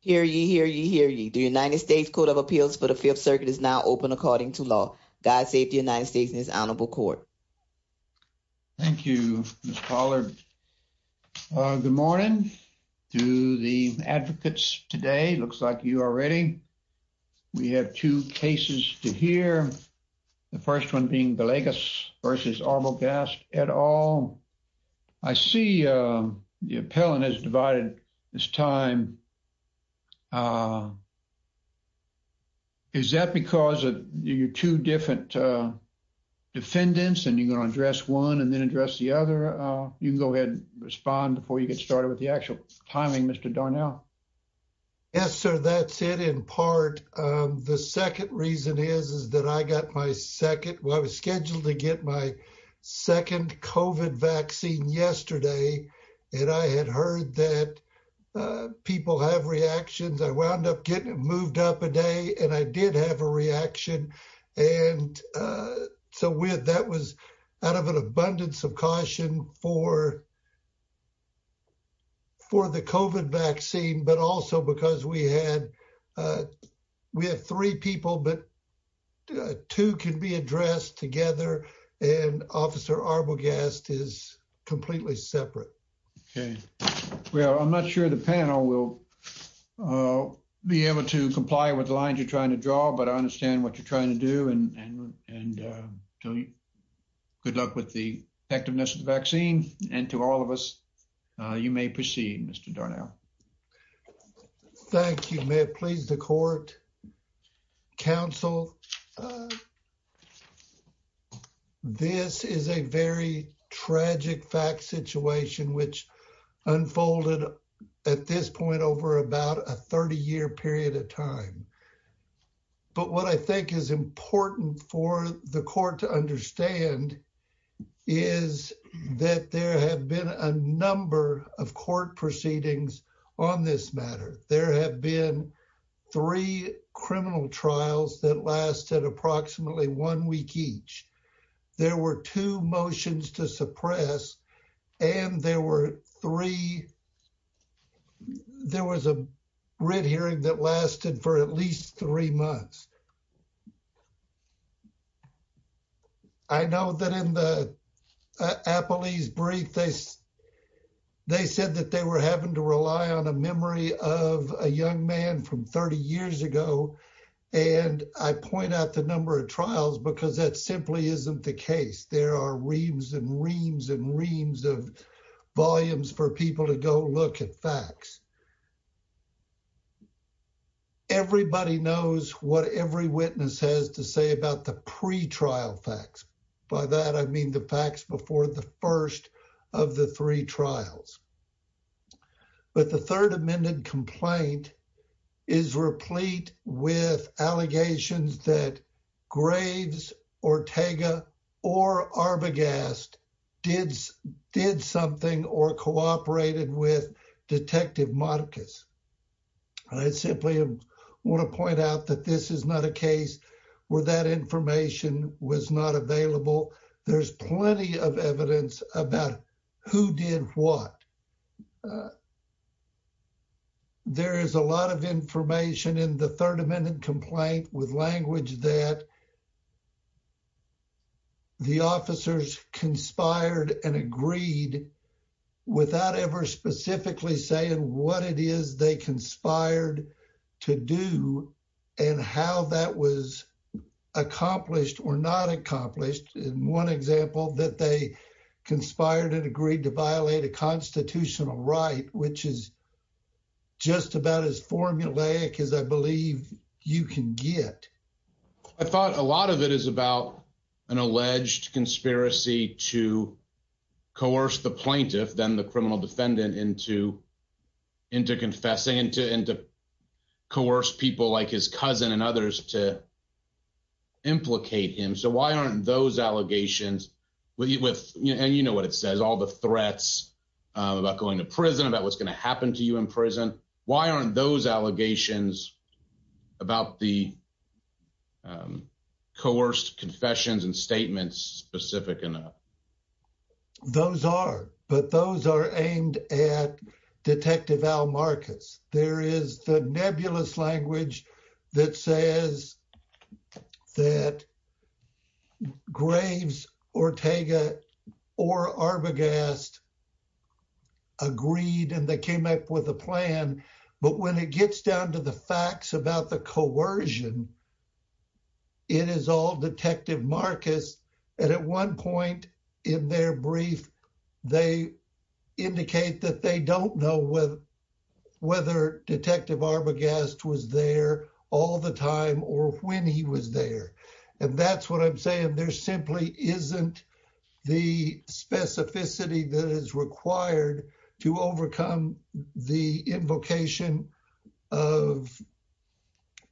Hear ye, hear ye, hear ye. The United States Court of Appeals for the Fifth Circuit is now open according to law. God save the United States and his honorable court. Thank you, Ms. Pollard. Good morning to the advocates today. Looks like you are ready. We have two cases to hear, the first one being Belegas v. Arbogast et al. I see the appellant has divided his time. Is that because of your two different defendants and you're going to address one and then address the other? You can go ahead and respond before you get started with the actual timing, Mr. Darnell. Yes, sir. That's it in part. The second reason is, is that I got my second, I was scheduled to get my second COVID vaccine yesterday and I had heard that people have reactions. I wound up getting moved up a day and I did have a reaction. And so with that was out of an abundance of caution for. For the COVID vaccine, but also because we had we have three people, but two can be addressed together and officer Arbogast is completely separate. Well, I'm not sure the panel will be able to comply with the lines you're trying to draw, but I understand what you're trying to do and good luck with the effectiveness of the vaccine. And to all of us, you may proceed, Mr. Darnell. Thank you. May it please the court. Council. This is a very tragic fact situation, which unfolded at this point over about a 30 year period of time. But what I think is important for the court to understand is that there have been a number of court proceedings on this matter. There have been three criminal trials that lasted approximately one week each. There were two motions to suppress and there were three. There was a red hearing that lasted for at least three months. I know that in the appellee's brief, they said that they were having to rely on a memory of a young man from 30 years ago. And I point out the number of trials because that simply isn't the case. There are reams and reams and reams of volumes for people to go look at facts. Everybody knows what every witness has to say about the pretrial facts. By that, I mean the facts before the first of the three trials. But the third amended complaint is replete with allegations that Graves, Ortega or Arbogast did something or cooperated with Detective Marcus. I simply want to point out that this is not a case where that information was not available. There's plenty of evidence about who did what. There is a lot of information in the third amended complaint with language that the officers conspired and agreed without ever specifically saying what it is they conspired to do and how that was accomplished or not accomplished. One example that they conspired and agreed to violate a constitutional right, which is just about as formulaic as I believe you can get. I thought a lot of it is about an alleged conspiracy to coerce the plaintiff, then the criminal defendant, into confessing and to coerce people like his cousin and others to implicate him. So why aren't those allegations, and you know what it says, all the threats about going to prison, about what's going to happen to you in prison, why aren't those allegations about the coerced confessions and statements specific enough? Those are, but those are aimed at Detective Al Marcus. There is the nebulous language that says that Graves, Ortega, or Arbogast agreed and they came up with a plan. But when it gets down to the facts about the coercion, it is all Detective Marcus. And at one point in their brief, they indicate that they don't know whether Detective Arbogast was there all the time or when he was there. And that's what I'm saying. There simply isn't the specificity that is required to overcome the invocation of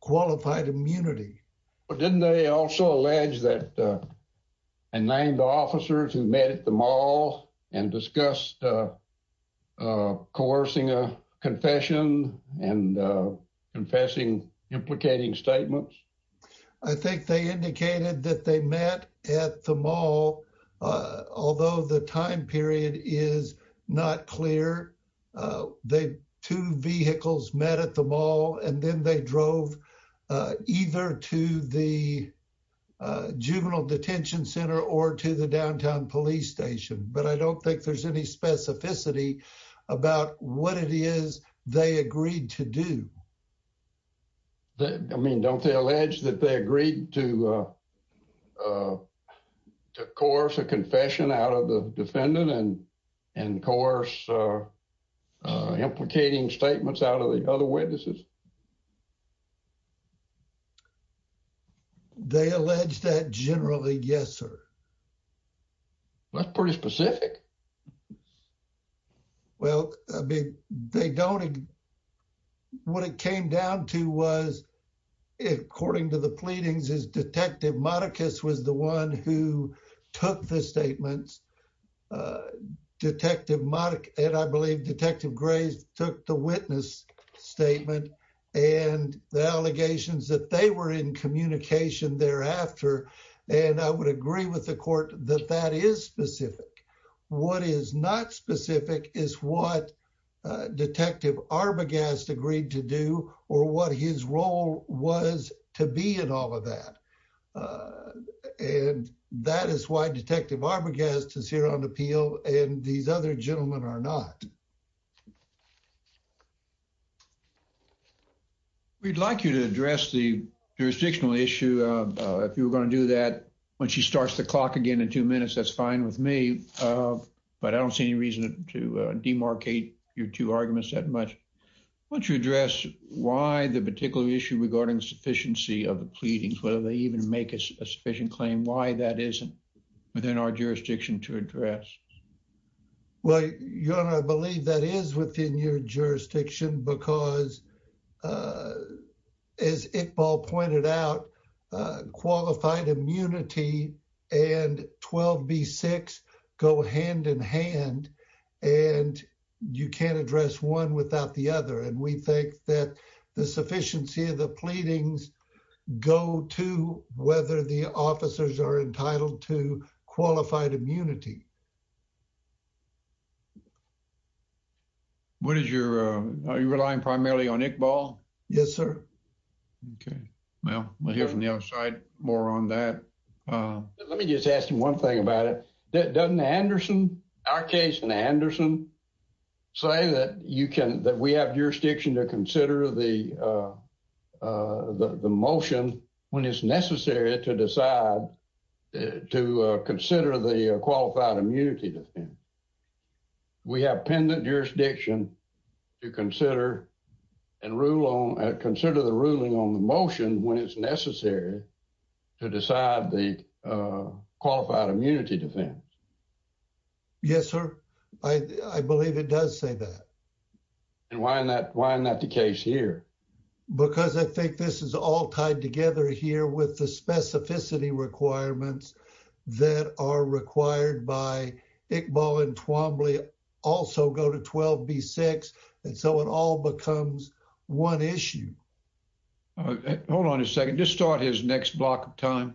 qualified immunity. But didn't they also allege that unnamed officers who met at the mall and discussed coercing a confession and confessing implicating statements? I think they indicated that they met at the mall, although the time period is not clear. They two vehicles met at the mall and then they drove either to the juvenile detention center or to the downtown police station. But I don't think there's any specificity about what it is they agreed to do. I mean, don't they allege that they agreed to coerce a confession out of the defendant and coerce implicating statements out of the other witnesses? They allege that generally, yes, sir. That's pretty specific. Well, they don't. What it came down to was, according to the pleadings is Detective Marcus was the one who took the statements. Detective Mark and I believe Detective Grace took the witness statement and the allegations that they were in communication thereafter. And I would agree with the court that that is specific. What is not specific is what Detective Arbogast agreed to do or what his role was to be in all of that. And that is why Detective Arbogast is here on appeal. And these other gentlemen are not. We'd like you to address the jurisdictional issue. If you were going to do that when she starts the clock again in two minutes, that's fine with me. But I don't see any reason to demarcate your two arguments that much. Once you address why the particular issue regarding sufficiency of the pleadings, whether they even make a sufficient claim, why that isn't within our jurisdiction to address. Well, I believe that is within your jurisdiction because, as Iqbal pointed out, qualified immunity and 12B6 go hand in hand and you can't address one without the other. And we think that the sufficiency of the pleadings go to whether the officers are entitled to qualified immunity. What is your are you relying primarily on Iqbal? Yes, sir. OK, well, we'll hear from the other side more on that. Let me just ask you one thing about it. Doesn't Anderson, our case in Anderson, say that you can that we have jurisdiction to consider the motion when it's necessary to decide to consider the qualified immunity? We have pendant jurisdiction to consider and rule on, consider the ruling on the motion when it's necessary to decide the qualified immunity defense. Yes, sir. I believe it does say that. And why not? Why not the case here? Because I think this is all tied together here with the specificity requirements that are required by Iqbal and Twombly also go to 12B6. And so it all becomes one issue. Hold on a second. Just start his next block of time.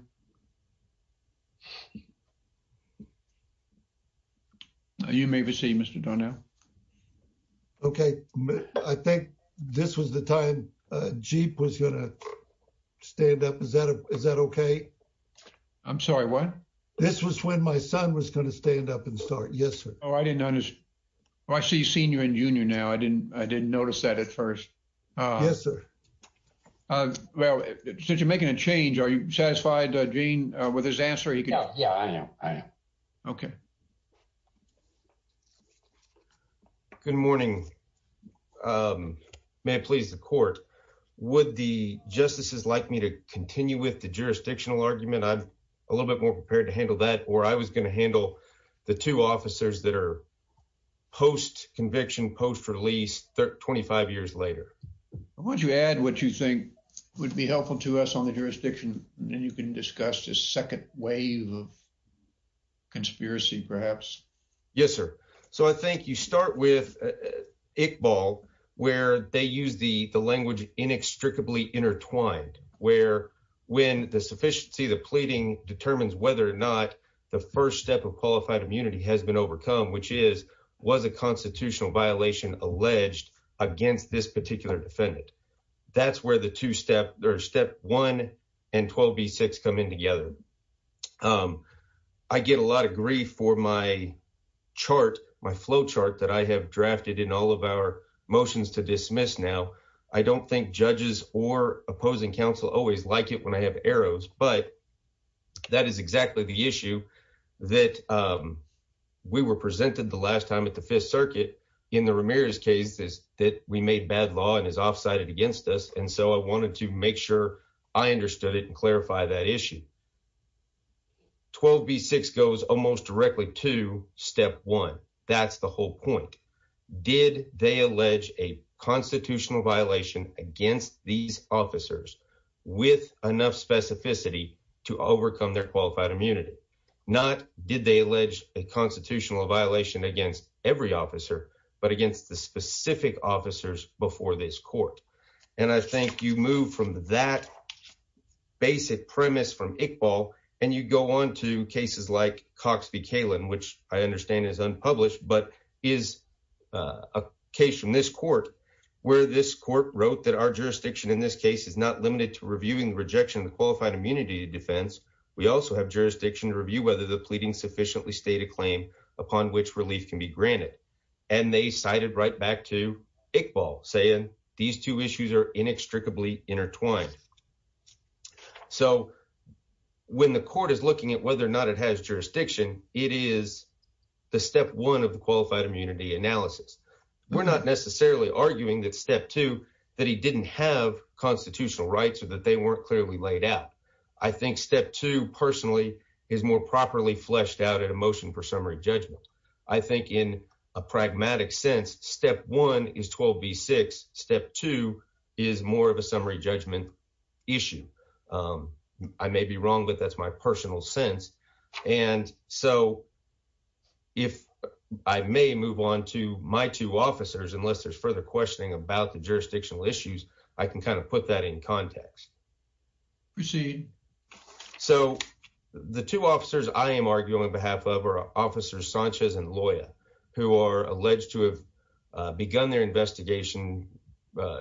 You may receive Mr. Donnell. OK, I think this was the time Jeep was going to stand up. Is that is that OK? I'm sorry. What? This was when my son was going to stand up and start. Yes. Oh, I didn't notice. I see senior and junior now. I didn't I didn't notice that at first. Yes, sir. Well, since you're making a change, are you satisfied? Gene, with his answer. Yeah, I am. I am. OK. Good morning. May it please the court. Would the justices like me to continue with the jurisdictional argument? I'm a little bit more prepared to handle that. Or I was going to handle the two officers that are post conviction, post release, 25 years later. Would you add what you think would be helpful to us on the jurisdiction? Then you can discuss the second wave of conspiracy, perhaps. Yes, sir. So I think you start with Iqbal, where they use the the language inextricably intertwined, where when the sufficiency of the pleading determines whether or not the first step of qualified immunity has been overcome, which is was a constitutional violation alleged against this particular defendant. That's where the two step or step one and 12B6 come in together. I get a lot of grief for my chart, my flow chart that I have drafted in all of our motions to dismiss. Now, I don't think judges or opposing counsel always like it when I have arrows. But that is exactly the issue that we were presented the last time at the Fifth Circuit in the Ramirez case is that we made bad law and is offsided against us. And so I wanted to make sure I understood it and clarify that issue. 12B6 goes almost directly to step one. That's the whole point. Did they allege a constitutional violation against these officers with enough specificity to overcome their qualified immunity? Not did they allege a constitutional violation against every officer, but against the specific officers before this court? And I think you move from that basic premise from Iqbal and you go on to cases like Cox v. But is a case from this court where this court wrote that our jurisdiction in this case is not limited to reviewing the rejection of the qualified immunity defense. We also have jurisdiction to review whether the pleading sufficiently state a claim upon which relief can be granted. And they cited right back to Iqbal saying these two issues are inextricably intertwined. So when the court is looking at whether or not it has jurisdiction, it is the step one of the qualified immunity analysis. We're not necessarily arguing that step two, that he didn't have constitutional rights or that they weren't clearly laid out. I think step two personally is more properly fleshed out in a motion for summary judgment. I think in a pragmatic sense, step one is 12 v six. Step two is more of a summary judgment issue. I may be wrong, but that's my personal sense. And so. If I may move on to my two officers, unless there's further questioning about the jurisdictional issues, I can kind of put that in context. Proceed. So the two officers I am arguing on behalf of our officers, Sanchez and Loya, who are alleged to have begun their investigation.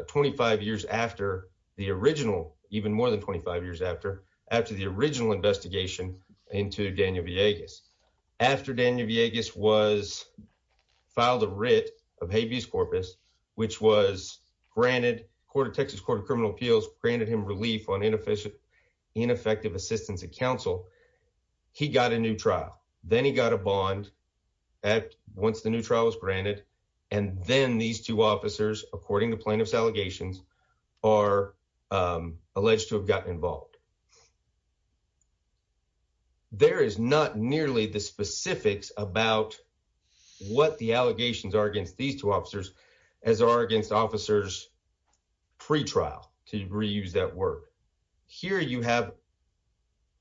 Twenty five years after the original, even more than 25 years after, after the original investigation into Daniel Villegas, after Daniel Villegas was. Filed a writ of habeas corpus, which was granted court of Texas Court of Criminal Appeals, granted him relief on inefficient, ineffective assistance of counsel. He got a new trial. Then he got a bond at once the new trial was granted. And then these two officers, according to plaintiff's allegations, are alleged to have gotten involved. There is not nearly the specifics about what the allegations are against these two officers, as are against officers. Pre trial to reuse that word. Here you have.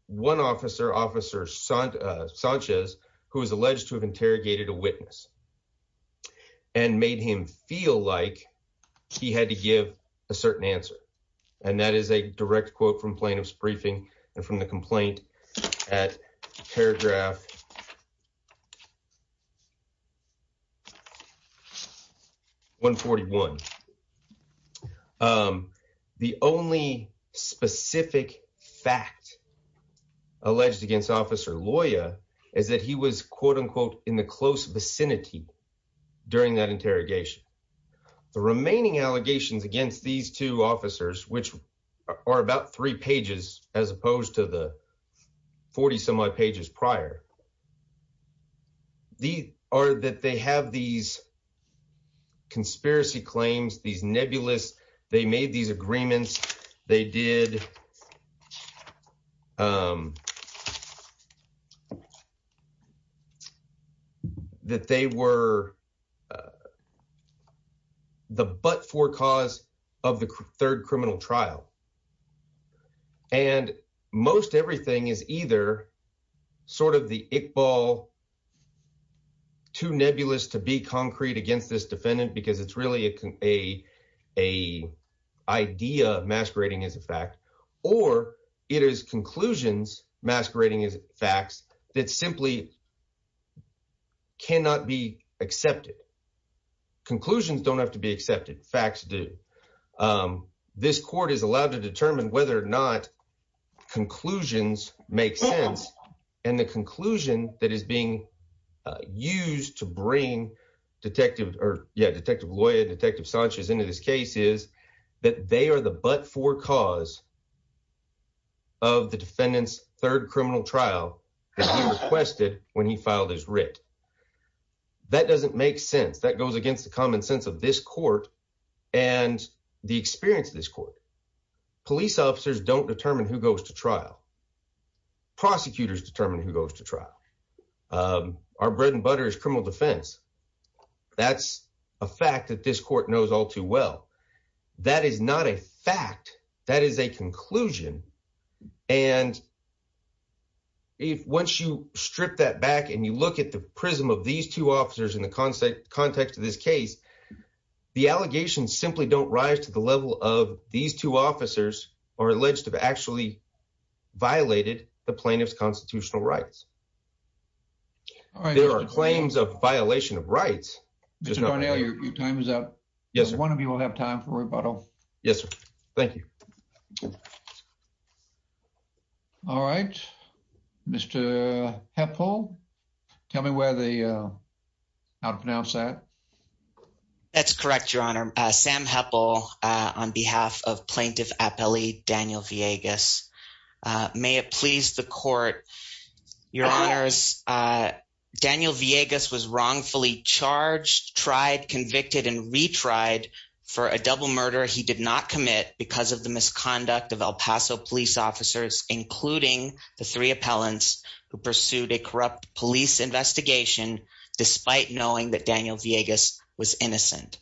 One officer officer's son Sanchez, who is alleged to have interrogated a witness. And made him feel like he had to give a certain answer. And that is a direct quote from plaintiff's briefing and from the complaint at paragraph. One forty one. The only specific fact. Alleged against officer lawyer is that he was, quote unquote, in the close vicinity during that interrogation. The remaining allegations against these two officers, which are about three pages, as opposed to the 40 some odd pages prior. The are that they have these. Conspiracy claims, these nebulous, they made these agreements, they did. That they were. The but for cause of the third criminal trial. And most everything is either sort of the ball. Two nebulous to be concrete against this defendant, because it's really a a idea masquerading as a fact. Or it is conclusions masquerading as facts that simply. Cannot be accepted. Conclusions don't have to be accepted. Facts do. This court is allowed to determine whether or not conclusions make sense. And the conclusion that is being used to bring detective or detective lawyer, detective Sanchez into this case is that they are the but for cause. Of the defendant's third criminal trial requested when he filed his writ. That doesn't make sense. That goes against the common sense of this court and the experience of this court. Police officers don't determine who goes to trial. Prosecutors determine who goes to trial. Our bread and butter is criminal defense. That's a fact that this court knows all too well. That is not a fact. That is a conclusion. And. If once you strip that back and you look at the prism of these two officers in the context of this case, the allegations simply don't rise to the level of these two officers are alleged to have actually violated the plaintiff's constitutional rights. There are claims of violation of rights. Your time is up. One of you will have time for rebuttal. Yes, sir. Thank you. All right. Mr. Helpful. Tell me where the. I'll pronounce that. That's correct. Your Honor. Sam Heppel on behalf of plaintiff appellee Daniel Vegas. May it please the court. Your honors. Daniel Vegas was wrongfully charged, tried, convicted and retried for a double murder. He did not commit because of the misconduct of El Paso police officers, including the three appellants who pursued a corrupt police investigation, despite knowing that Daniel Vegas was innocent.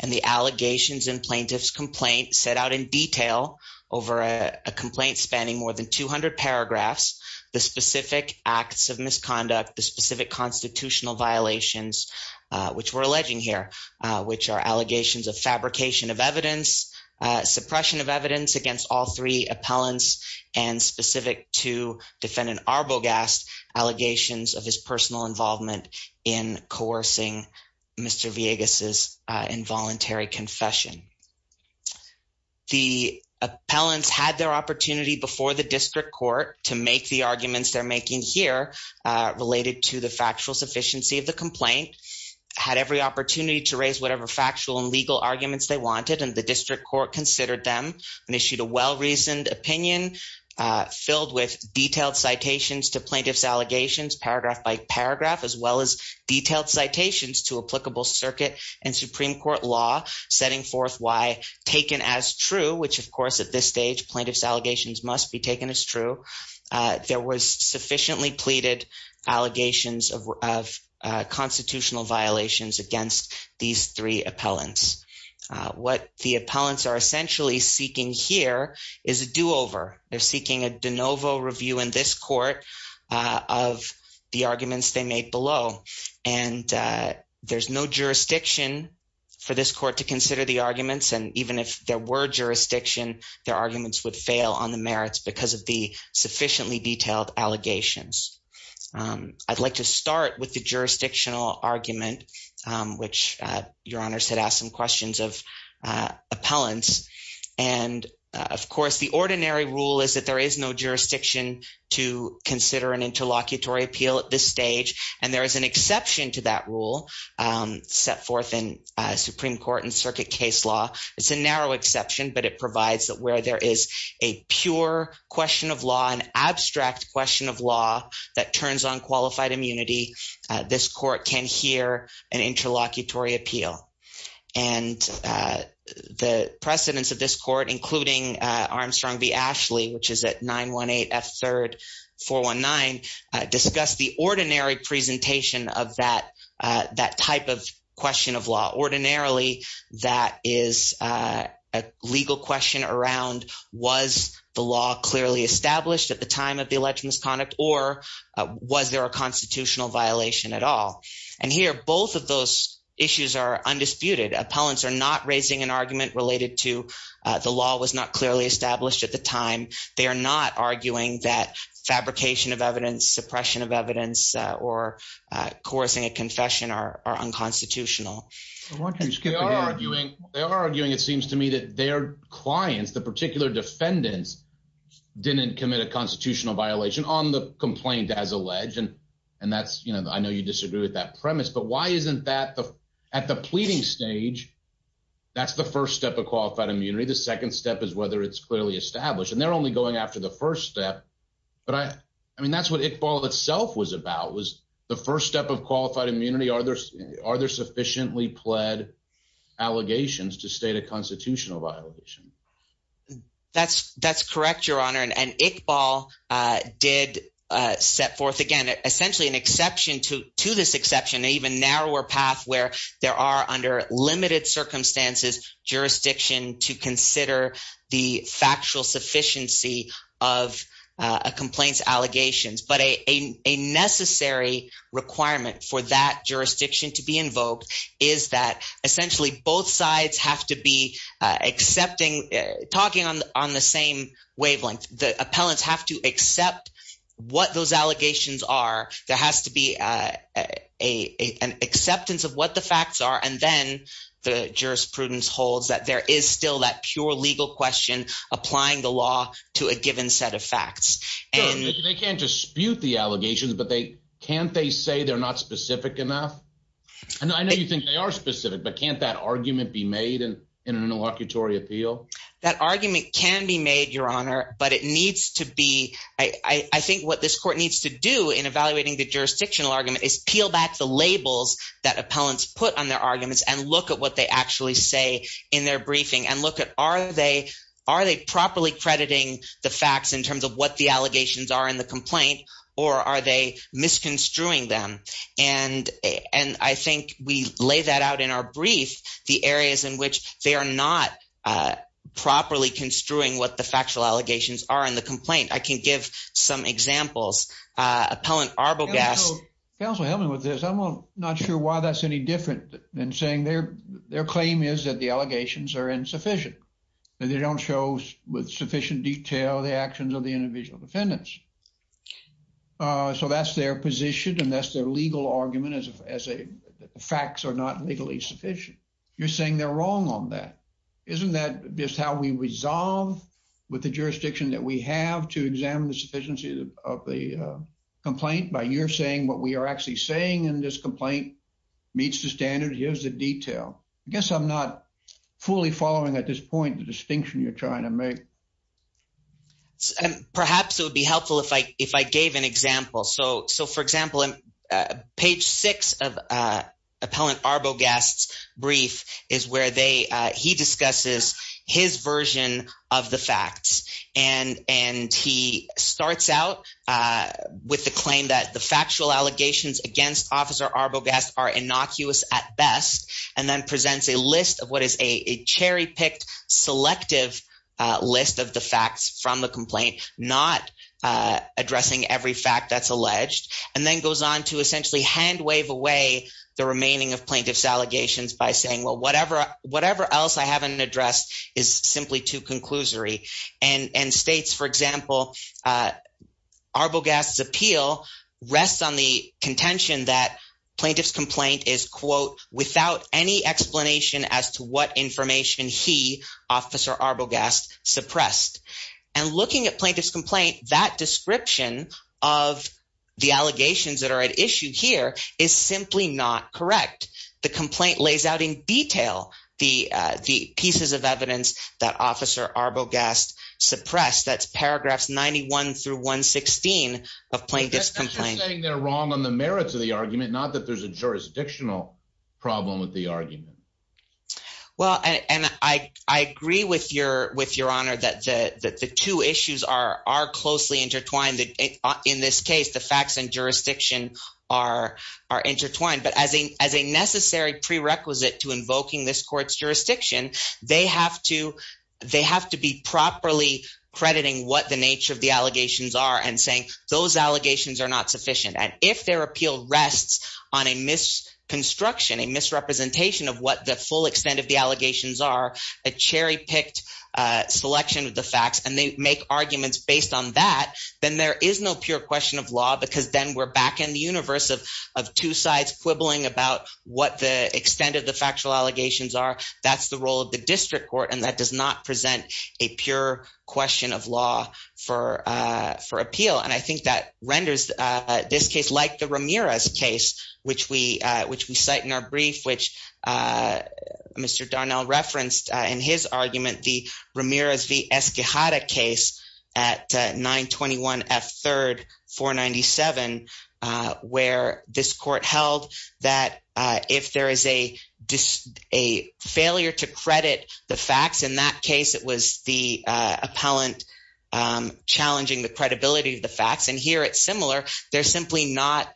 And the allegations in plaintiff's complaint set out in detail over a complaint spanning more than 200 paragraphs, the specific acts of misconduct, the specific constitutional violations, which we're alleging here, which are allegations of fabrication of evidence. Suppression of evidence against all three appellants and specific to defend an arbogast allegations of his personal involvement in coercing Mr. Vegas is involuntary confession. The appellants had their opportunity before the district court to make the arguments they're making here related to the factual sufficiency of the complaint had every opportunity to raise whatever factual and legal arguments they wanted. And the district court considered them and issued a well-reasoned opinion filled with detailed citations to plaintiff's allegations, paragraph by paragraph, as well as detailed citations to applicable circuit and Supreme Court law, setting forth why taken as true, which, of course, at this stage, plaintiff's allegations must be taken as true. There was sufficiently pleaded allegations of constitutional violations against these three appellants. What the appellants are essentially seeking here is a do over. They're seeking a de novo review in this court of the arguments they made below, and there's no jurisdiction for this court to consider the arguments. And even if there were jurisdiction, their arguments would fail on the merits because of the sufficiently detailed allegations. I'd like to start with the jurisdictional argument, which your honors had asked some questions of appellants. And, of course, the ordinary rule is that there is no jurisdiction to consider an interlocutory appeal at this stage. And there is an exception to that rule set forth in Supreme Court and circuit case law. It's a narrow exception, but it provides where there is a pure question of law, an abstract question of law that turns on qualified immunity. This court can hear an interlocutory appeal. And the precedents of this court, including Armstrong v. Ashley, which is at 918F3-419, discussed the ordinary presentation of that type of question of law. Ordinarily, that is a legal question around was the law clearly established at the time of the alleged misconduct or was there a constitutional violation at all? And here, both of those issues are undisputed. Appellants are not raising an argument related to the law was not clearly established at the time. They are not arguing that fabrication of evidence, suppression of evidence, or coercing a confession are unconstitutional. They are arguing, it seems to me, that their clients, the particular defendants, didn't commit a constitutional violation on the complaint as alleged. And that's, you know, I know you disagree with that premise, but why isn't that at the pleading stage, that's the first step of qualified immunity. The second step is whether it's clearly established. And they're only going after the first step. But I mean, that's what Iqbal itself was about, was the first step of qualified immunity. Are there sufficiently pled allegations to state a constitutional violation? That's correct, Your Honor. And Iqbal did set forth, again, essentially an exception to this exception, an even narrower path where there are under limited circumstances jurisdiction to consider the factual sufficiency of a complaint's allegations. But a necessary requirement for that jurisdiction to be invoked is that essentially both sides have to be accepting – talking on the same wavelength. The appellants have to accept what those allegations are. There has to be an acceptance of what the facts are, and then the jurisprudence holds that there is still that pure legal question applying the law to a given set of facts. They can't dispute the allegations, but can't they say they're not specific enough? I know you think they are specific, but can't that argument be made in an interlocutory appeal? That argument can be made, Your Honor, but it needs to be – I think what this court needs to do in evaluating the jurisdictional argument is peel back the labels that appellants put on their arguments and look at what they actually say in their briefing. Look at are they properly crediting the facts in terms of what the allegations are in the complaint, or are they misconstruing them? I think we lay that out in our brief, the areas in which they are not properly construing what the factual allegations are in the complaint. I can give some examples. Appellant Arbogast – Counsel, help me with this. I'm not sure why that's any different than saying their claim is that the allegations are insufficient, that they don't show with sufficient detail the actions of the individual defendants. So that's their position, and that's their legal argument as facts are not legally sufficient. You're saying they're wrong on that. Isn't that just how we resolve with the jurisdiction that we have to examine the sufficiency of the complaint? By you're saying what we are actually saying in this complaint meets the standards. Here's the detail. I guess I'm not fully following at this point the distinction you're trying to make. Perhaps it would be helpful if I gave an example. So, for example, page six of Appellant Arbogast's brief is where he discusses his version of the facts. And he starts out with the claim that the factual allegations against Officer Arbogast are innocuous at best and then presents a list of what is a cherry-picked, selective list of the facts from the complaint, not addressing every fact that's alleged. And then goes on to essentially hand-wave away the remaining of plaintiff's allegations by saying, well, whatever else I haven't addressed is simply too conclusory. And states, for example, Arbogast's appeal rests on the contention that plaintiff's complaint is, quote, without any explanation as to what information he, Officer Arbogast, suppressed. And looking at plaintiff's complaint, that description of the allegations that are at issue here is simply not correct. The complaint lays out in detail the pieces of evidence that Officer Arbogast suppressed. That's paragraphs 91 through 116 of plaintiff's complaint. But that's just saying they're wrong on the merits of the argument, not that there's a jurisdictional problem with the argument. Well, and I agree with your honor that the two issues are closely intertwined. In this case, the facts and jurisdiction are intertwined. But as a necessary prerequisite to invoking this court's jurisdiction, they have to be properly crediting what the nature of the allegations are and saying those allegations are not sufficient. And if their appeal rests on a misconstruction, a misrepresentation of what the full extent of the allegations are, a cherry-picked selection of the facts, and they make arguments based on that, then there is no pure question of law because then we're back in the universe of two sides quibbling about what the extent of the factual allegations are. That's the role of the district court, and that does not present a pure question of law for appeal. And I think that renders this case like the Ramirez case, which we cite in our brief, which Mr. Darnell referenced in his argument, the Ramirez v. Esquihada case at 921F3, 497, where this court held that if there is a failure to credit the facts, in that case, it was the appellant challenging the credibility of the facts. And here it's similar. They're simply not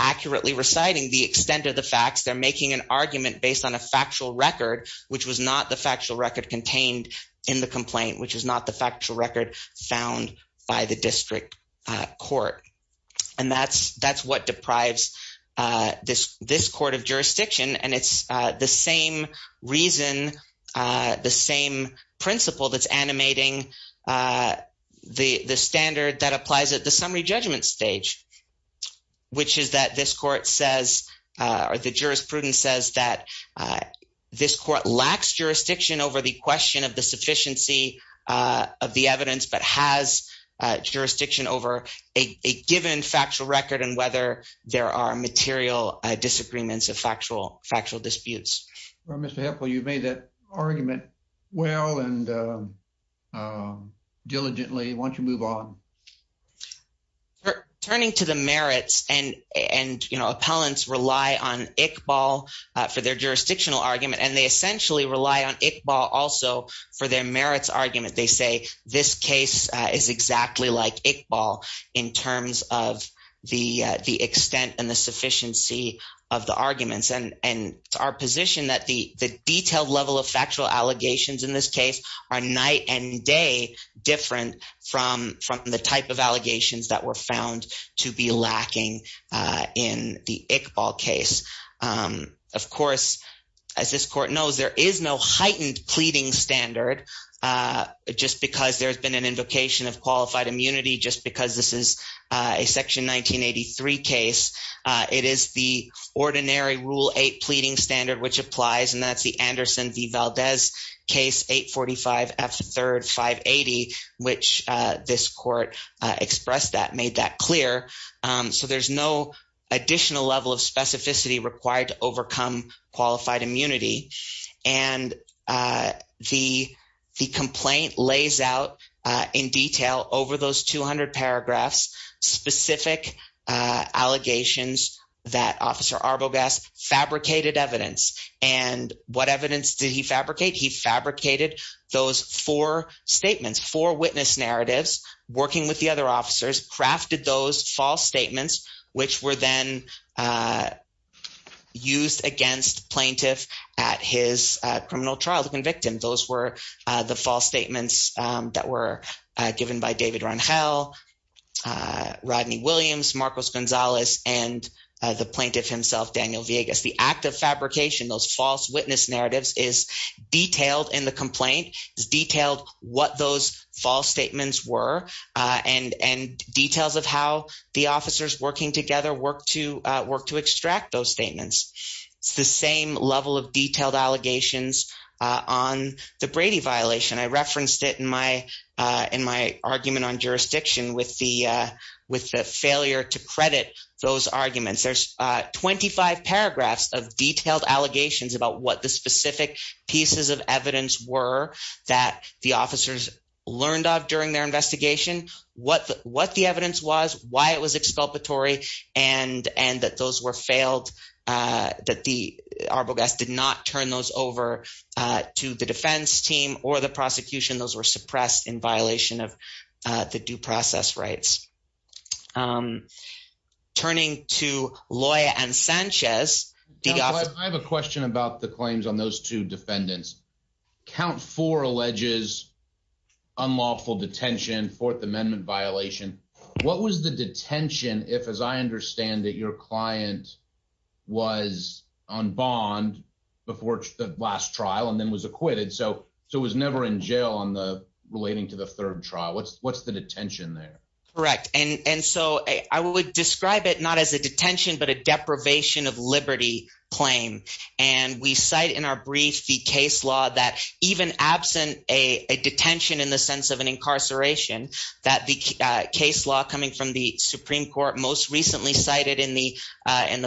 accurately reciting the extent of the facts. They're making an argument based on a factual record, which was not the factual record contained in the complaint, which is not the factual record found by the district court. And that's what deprives this court of jurisdiction, and it's the same reason, the same principle that's animating the standard that applies at the summary judgment stage, which is that this court says – or the jurisprudence says that this court lacks jurisdiction over the question of the sufficiency of the evidence but has jurisdiction over a case. It's given factual record and whether there are material disagreements of factual disputes. Well, Mr. Heffel, you've made that argument well and diligently. Why don't you move on? Turning to the merits, and appellants rely on Iqbal for their jurisdictional argument, and they essentially rely on Iqbal also for their merits argument. They say this case is exactly like Iqbal in terms of the extent and the sufficiency of the arguments, and it's our position that the detailed level of factual allegations in this case are night and day different from the type of allegations that were found to be lacking in the Iqbal case. Of course, as this court knows, there is no heightened pleading standard just because there's been an invocation of qualified immunity just because this is a Section 1983 case. It is the ordinary Rule 8 pleading standard which applies, and that's the Anderson v. Valdez case 845F3-580, which this court expressed that, made that clear. So there's no additional level of specificity required to overcome qualified immunity, and the complaint lays out in detail over those 200 paragraphs specific allegations that Officer Arbogast fabricated evidence. And what evidence did he fabricate? He fabricated those four statements, four witness narratives, working with the other officers, crafted those false statements, which were then used against plaintiff at his criminal trial to convict him. Those were the false statements that were given by David Rangel, Rodney Williams, Marcos Gonzalez, and the plaintiff himself, Daniel Villegas. The act of fabrication, those false witness narratives, is detailed in the complaint, is detailed what those false statements were, and details of how the officers working together worked to extract those statements. It's the same level of detailed allegations on the Brady violation. I referenced it in my argument on jurisdiction with the failure to credit those arguments. There's 25 paragraphs of detailed allegations about what the specific pieces of evidence were that the officers learned of during their investigation, what the evidence was, why it was exculpatory, and that those were failed, that the Arbogast did not turn those over to the defense team or the prosecution. Those were suppressed in violation of the due process rights. Turning to Loya and Sanchez. I have a question about the claims on those two defendants. Count four alleges unlawful detention, Fourth Amendment violation. What was the detention if, as I understand it, your client was on bond before the last trial and then was acquitted, so was never in jail relating to the third trial? What's the detention there? Correct. And so I would describe it not as a detention but a deprivation of liberty claim. And we cite in our brief the case law that even absent a detention in the sense of an incarceration, that the case law coming from the Supreme Court most recently cited in the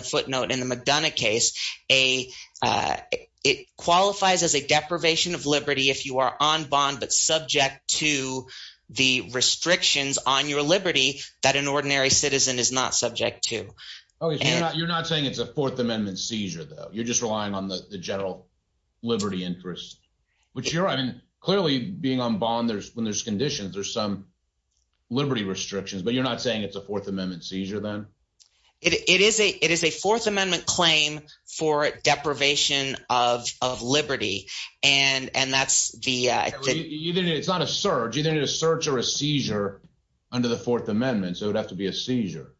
footnote in the McDonough case, it qualifies as a deprivation of liberty if you are on bond but subject to the restrictions on your liberty that an ordinary citizen is not subject to. You're not saying it's a Fourth Amendment seizure, though. You're just relying on the general liberty interest, which you're – I mean, clearly, being on bond, when there's conditions, there's some liberty restrictions. But you're not saying it's a Fourth Amendment seizure, then? It is a Fourth Amendment claim for deprivation of liberty, and that's the – It's not a surge. You didn't need a surge or a seizure under the Fourth Amendment, so it would have to be a seizure.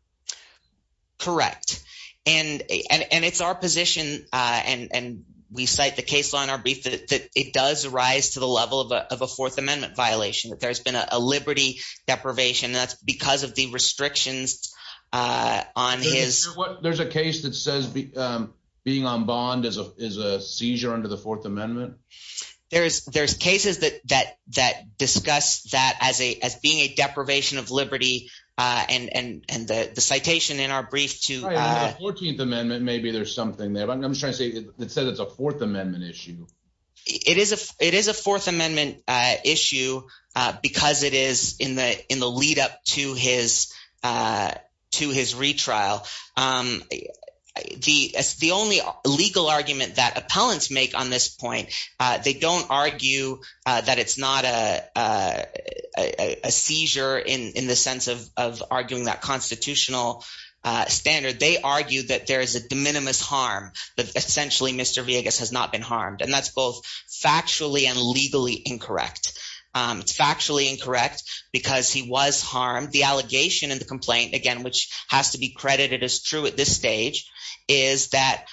Correct. And it's our position, and we cite the case law in our brief, that it does rise to the level of a Fourth Amendment violation, that there's been a liberty deprivation, and that's because of the restrictions on his… There's a case that says being on bond is a seizure under the Fourth Amendment? There's cases that discuss that as being a deprivation of liberty, and the citation in our brief to… Right, under the 14th Amendment, maybe there's something there. But I'm just trying to say it says it's a Fourth Amendment issue. It is a Fourth Amendment issue because it is in the lead-up to his retrial. The only legal argument that appellants make on this point, they don't argue that it's not a seizure in the sense of arguing that constitutional standard. They argue that there is a de minimis harm, that essentially Mr. Villegas has not been harmed, and that's both factually and legally incorrect. It's factually incorrect because he was harmed. The allegation in the complaint, again, which has to be credited as true at this stage, is that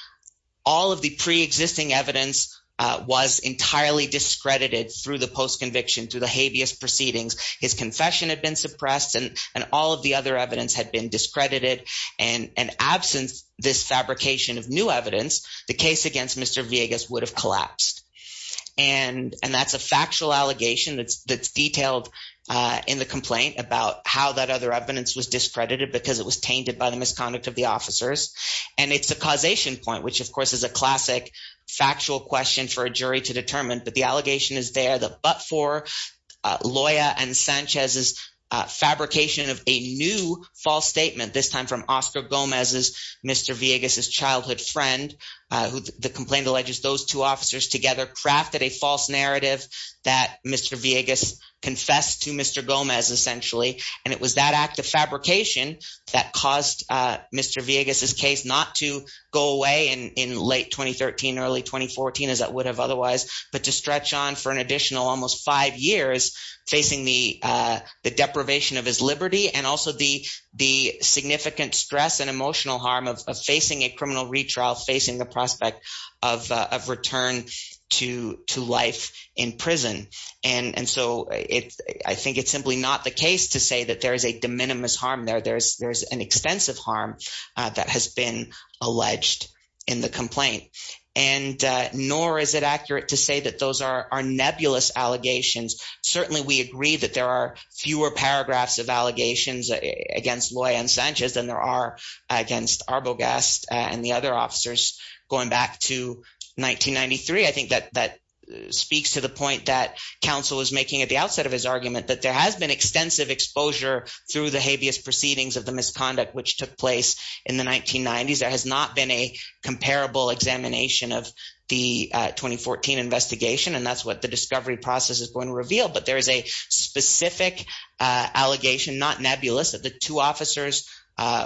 all of the pre-existing evidence was entirely discredited through the post-conviction, through the habeas proceedings. His confession had been suppressed, and all of the other evidence had been discredited. And in absence of this fabrication of new evidence, the case against Mr. Villegas would have collapsed. And that's a factual allegation that's detailed in the complaint about how that other evidence was discredited because it was tainted by the misconduct of the officers. And it's a causation point, which of course is a classic factual question for a jury to determine. But the allegation is there that but for Loya and Sanchez's fabrication of a new false statement, this time from Oscar Gomez's Mr. Villegas's childhood friend, the complaint alleges those two officers together crafted a false narrative that Mr. Villegas confessed to Mr. Gomez essentially. And it was that act of fabrication that caused Mr. Villegas's case not to go away in late 2013, early 2014 as it would have otherwise, but to stretch on for an additional almost five years facing the deprivation of his liberty and also the significant stress and emotional harm of facing a criminal retrial, facing the prospect of return to life in prison. And so I think it's simply not the case to say that there is a de minimis harm there. There's an extensive harm that has been alleged in the complaint, and nor is it accurate to say that those are nebulous allegations. Certainly we agree that there are fewer paragraphs of allegations against Loya and Sanchez than there are against Arbogast and the other officers going back to 1993. But there is a specific allegation, not nebulous, that the two officers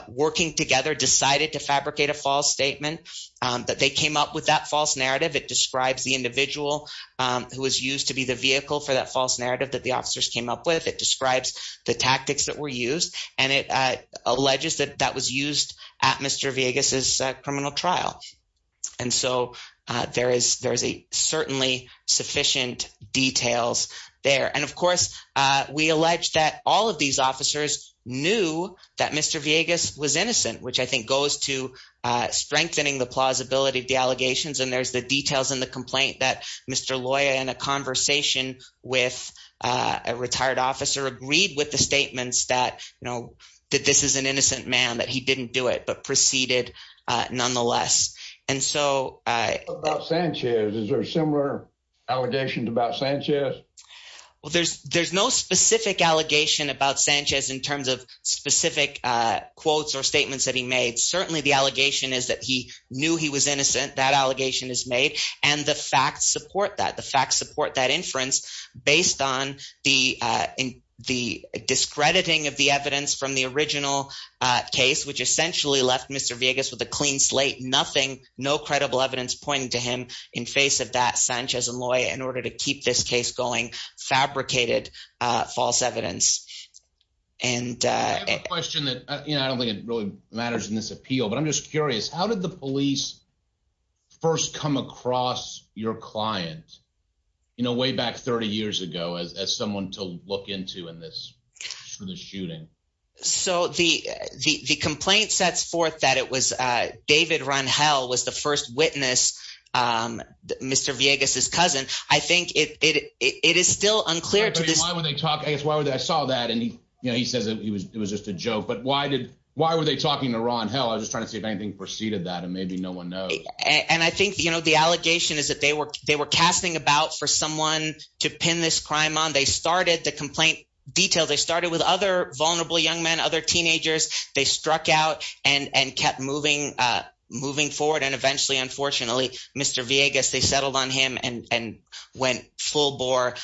working together decided to fabricate a false statement that they came up with that false narrative. It describes the individual who was used to be the vehicle for that false narrative that the officers came up with. It describes the tactics that were used, and it alleges that that was used at Mr. Villegas's criminal trial. And so there is certainly sufficient details there. And of course, we allege that all of these officers knew that Mr. Villegas was innocent, which I think goes to strengthening the plausibility of the allegations. And there's the details in the complaint that Mr. Loya, in a conversation with a retired officer, agreed with the statements that this is an innocent man, that he didn't do it, but proceeded nonetheless. What about Sanchez? Is there similar allegations about Sanchez? Well, there's no specific allegation about Sanchez in terms of specific quotes or statements that he made. Certainly the allegation is that he knew he was innocent. That allegation is made. And the facts support that. The facts support that inference based on the discrediting of the evidence from the original case, which essentially left Mr. Villegas with a clean slate. Nothing, no credible evidence pointing to him in face of that Sanchez and Loya in order to keep this case going fabricated false evidence. And I have a question that I don't think it really matters in this appeal, but I'm just curious. How did the police first come across your client, you know, way back 30 years ago as someone to look into in this shooting? So the the complaint sets forth that it was David Ron. Hell was the first witness, Mr. Villegas, his cousin. I think it is still unclear to this. Why would they talk? I guess why would I saw that? And, you know, he says it was it was just a joke. But why did why were they talking to Ron? Hell, I was trying to see if anything preceded that. And maybe no one knows. And I think, you know, the allegation is that they were they were casting about for someone to pin this crime on. They started the complaint detail. They started with other vulnerable young men, other teenagers. They struck out and kept moving, moving forward. And eventually, unfortunately, Mr. Villegas, they settled on him and went full bore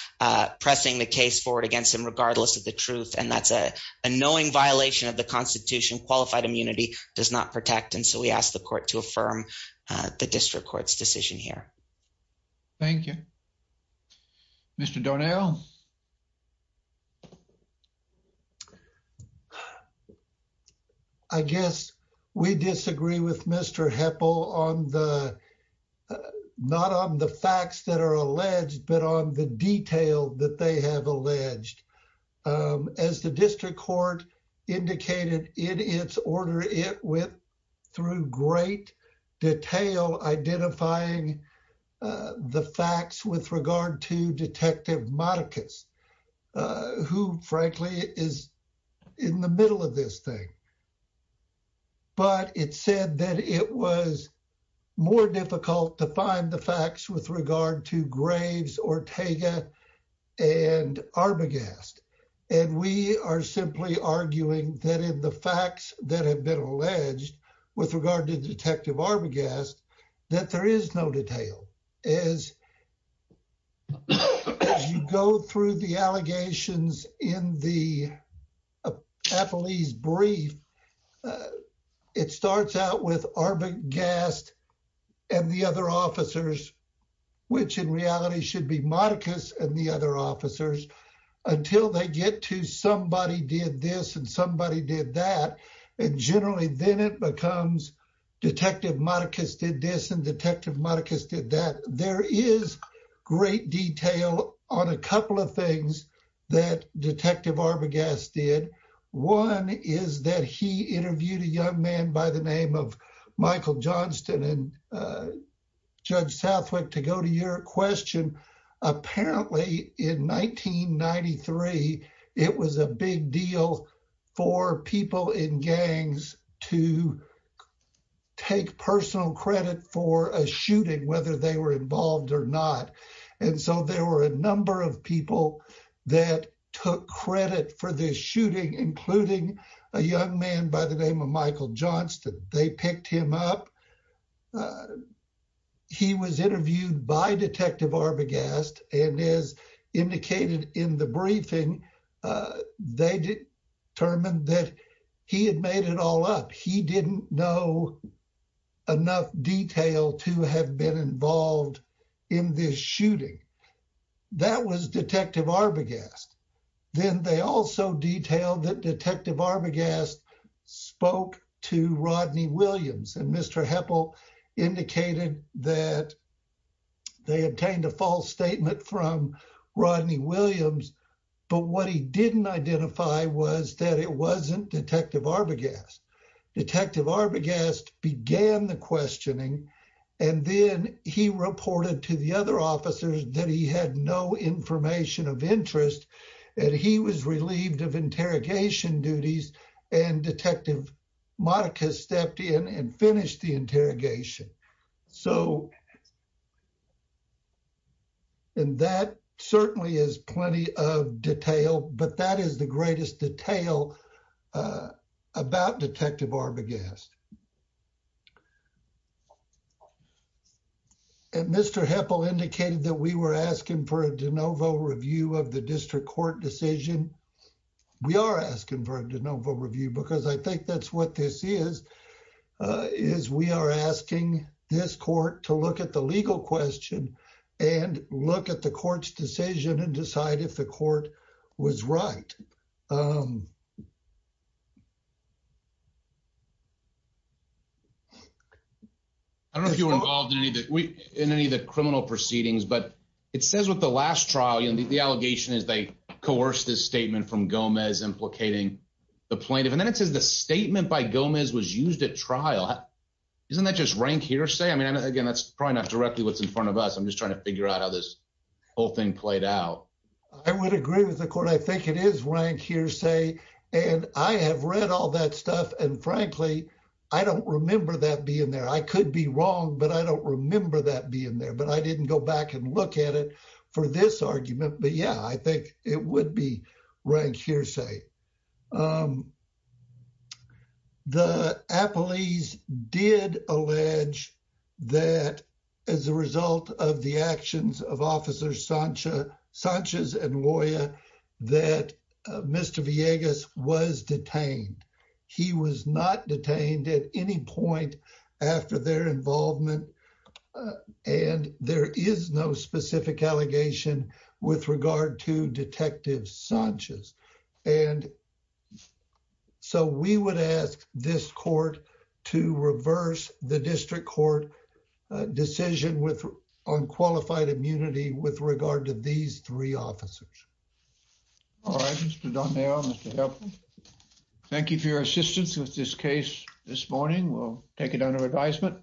pressing the case forward against him, regardless of the truth. And that's a knowing violation of the Constitution. Qualified immunity does not protect. And so we asked the court to affirm the district court's decision here. Thank you, Mr. Donnell. I guess we disagree with Mr. Heppel on the not on the facts that are alleged, but on the detail that they have alleged, as the district court indicated in its order, it went through great detail identifying the facts with regard to Detective Marcus, who, frankly, is in the middle of this thing. But it said that it was more difficult to find the facts with regard to Graves, Ortega and Arbogast. And we are simply arguing that in the facts that have been alleged with regard to Detective Arbogast, that there is no detail. As you go through the allegations in the police brief, it starts out with Arbogast and the other officers, which in reality should be Marcus and the other officers until they get to somebody did this and somebody did that. And generally then it becomes Detective Marcus did this and Detective Marcus did that. There is great detail on a couple of things that Detective Arbogast did. One is that he interviewed a young man by the name of Michael Johnston and Judge Southwick to go to your question. Apparently in 1993, it was a big deal for people in gangs to take personal credit for a shooting, whether they were involved or not. And so there were a number of people that took credit for this shooting, including a young man by the name of Michael Johnston. They picked him up. He was interviewed by Detective Arbogast and as indicated in the briefing, they determined that he had made it all up. He didn't know enough detail to have been involved in this shooting. That was Detective Arbogast. Then they also detailed that Detective Arbogast spoke to Rodney Williams and Mr. Heppel indicated that they obtained a false statement from Rodney Williams. But what he didn't identify was that it wasn't Detective Arbogast. Detective Arbogast began the questioning and then he reported to the other officers that he had no information of interest and he was relieved of interrogation duties. And Detective Monica stepped in and finished the interrogation. So. And that certainly is plenty of detail, but that is the greatest detail about Detective Arbogast. And Mr. Heppel indicated that we were asking for a de novo review of the district court decision. We are asking for a de novo review because I think that's what this is, is we are asking this court to look at the legal question and look at the court's decision and decide if the court was right. I don't know if you were involved in any of the criminal proceedings, but it says with the last trial, the allegation is they coerced this statement from Gomez implicating the plaintiff. And then it says the statement by Gomez was used at trial. Isn't that just rank hearsay? I mean, again, that's probably not directly what's in front of us. I'm just trying to figure out how this whole thing played out. I would agree with the court. But I think it is rank hearsay. And I have read all that stuff. And frankly, I don't remember that being there. I could be wrong, but I don't remember that being there. But I didn't go back and look at it for this argument. But, yeah, I think it would be rank hearsay. The police did allege that as a result of the actions of officers Sanchez and Loya that Mr. Villegas was detained. He was not detained at any point after their involvement. And there is no specific allegation with regard to Detective Sanchez. And so we would ask this court to reverse the district court decision on qualified immunity with regard to these three officers. All right, Mr. Donnell, Mr. Heflin. Thank you for your assistance with this case this morning. We'll take it under advisement.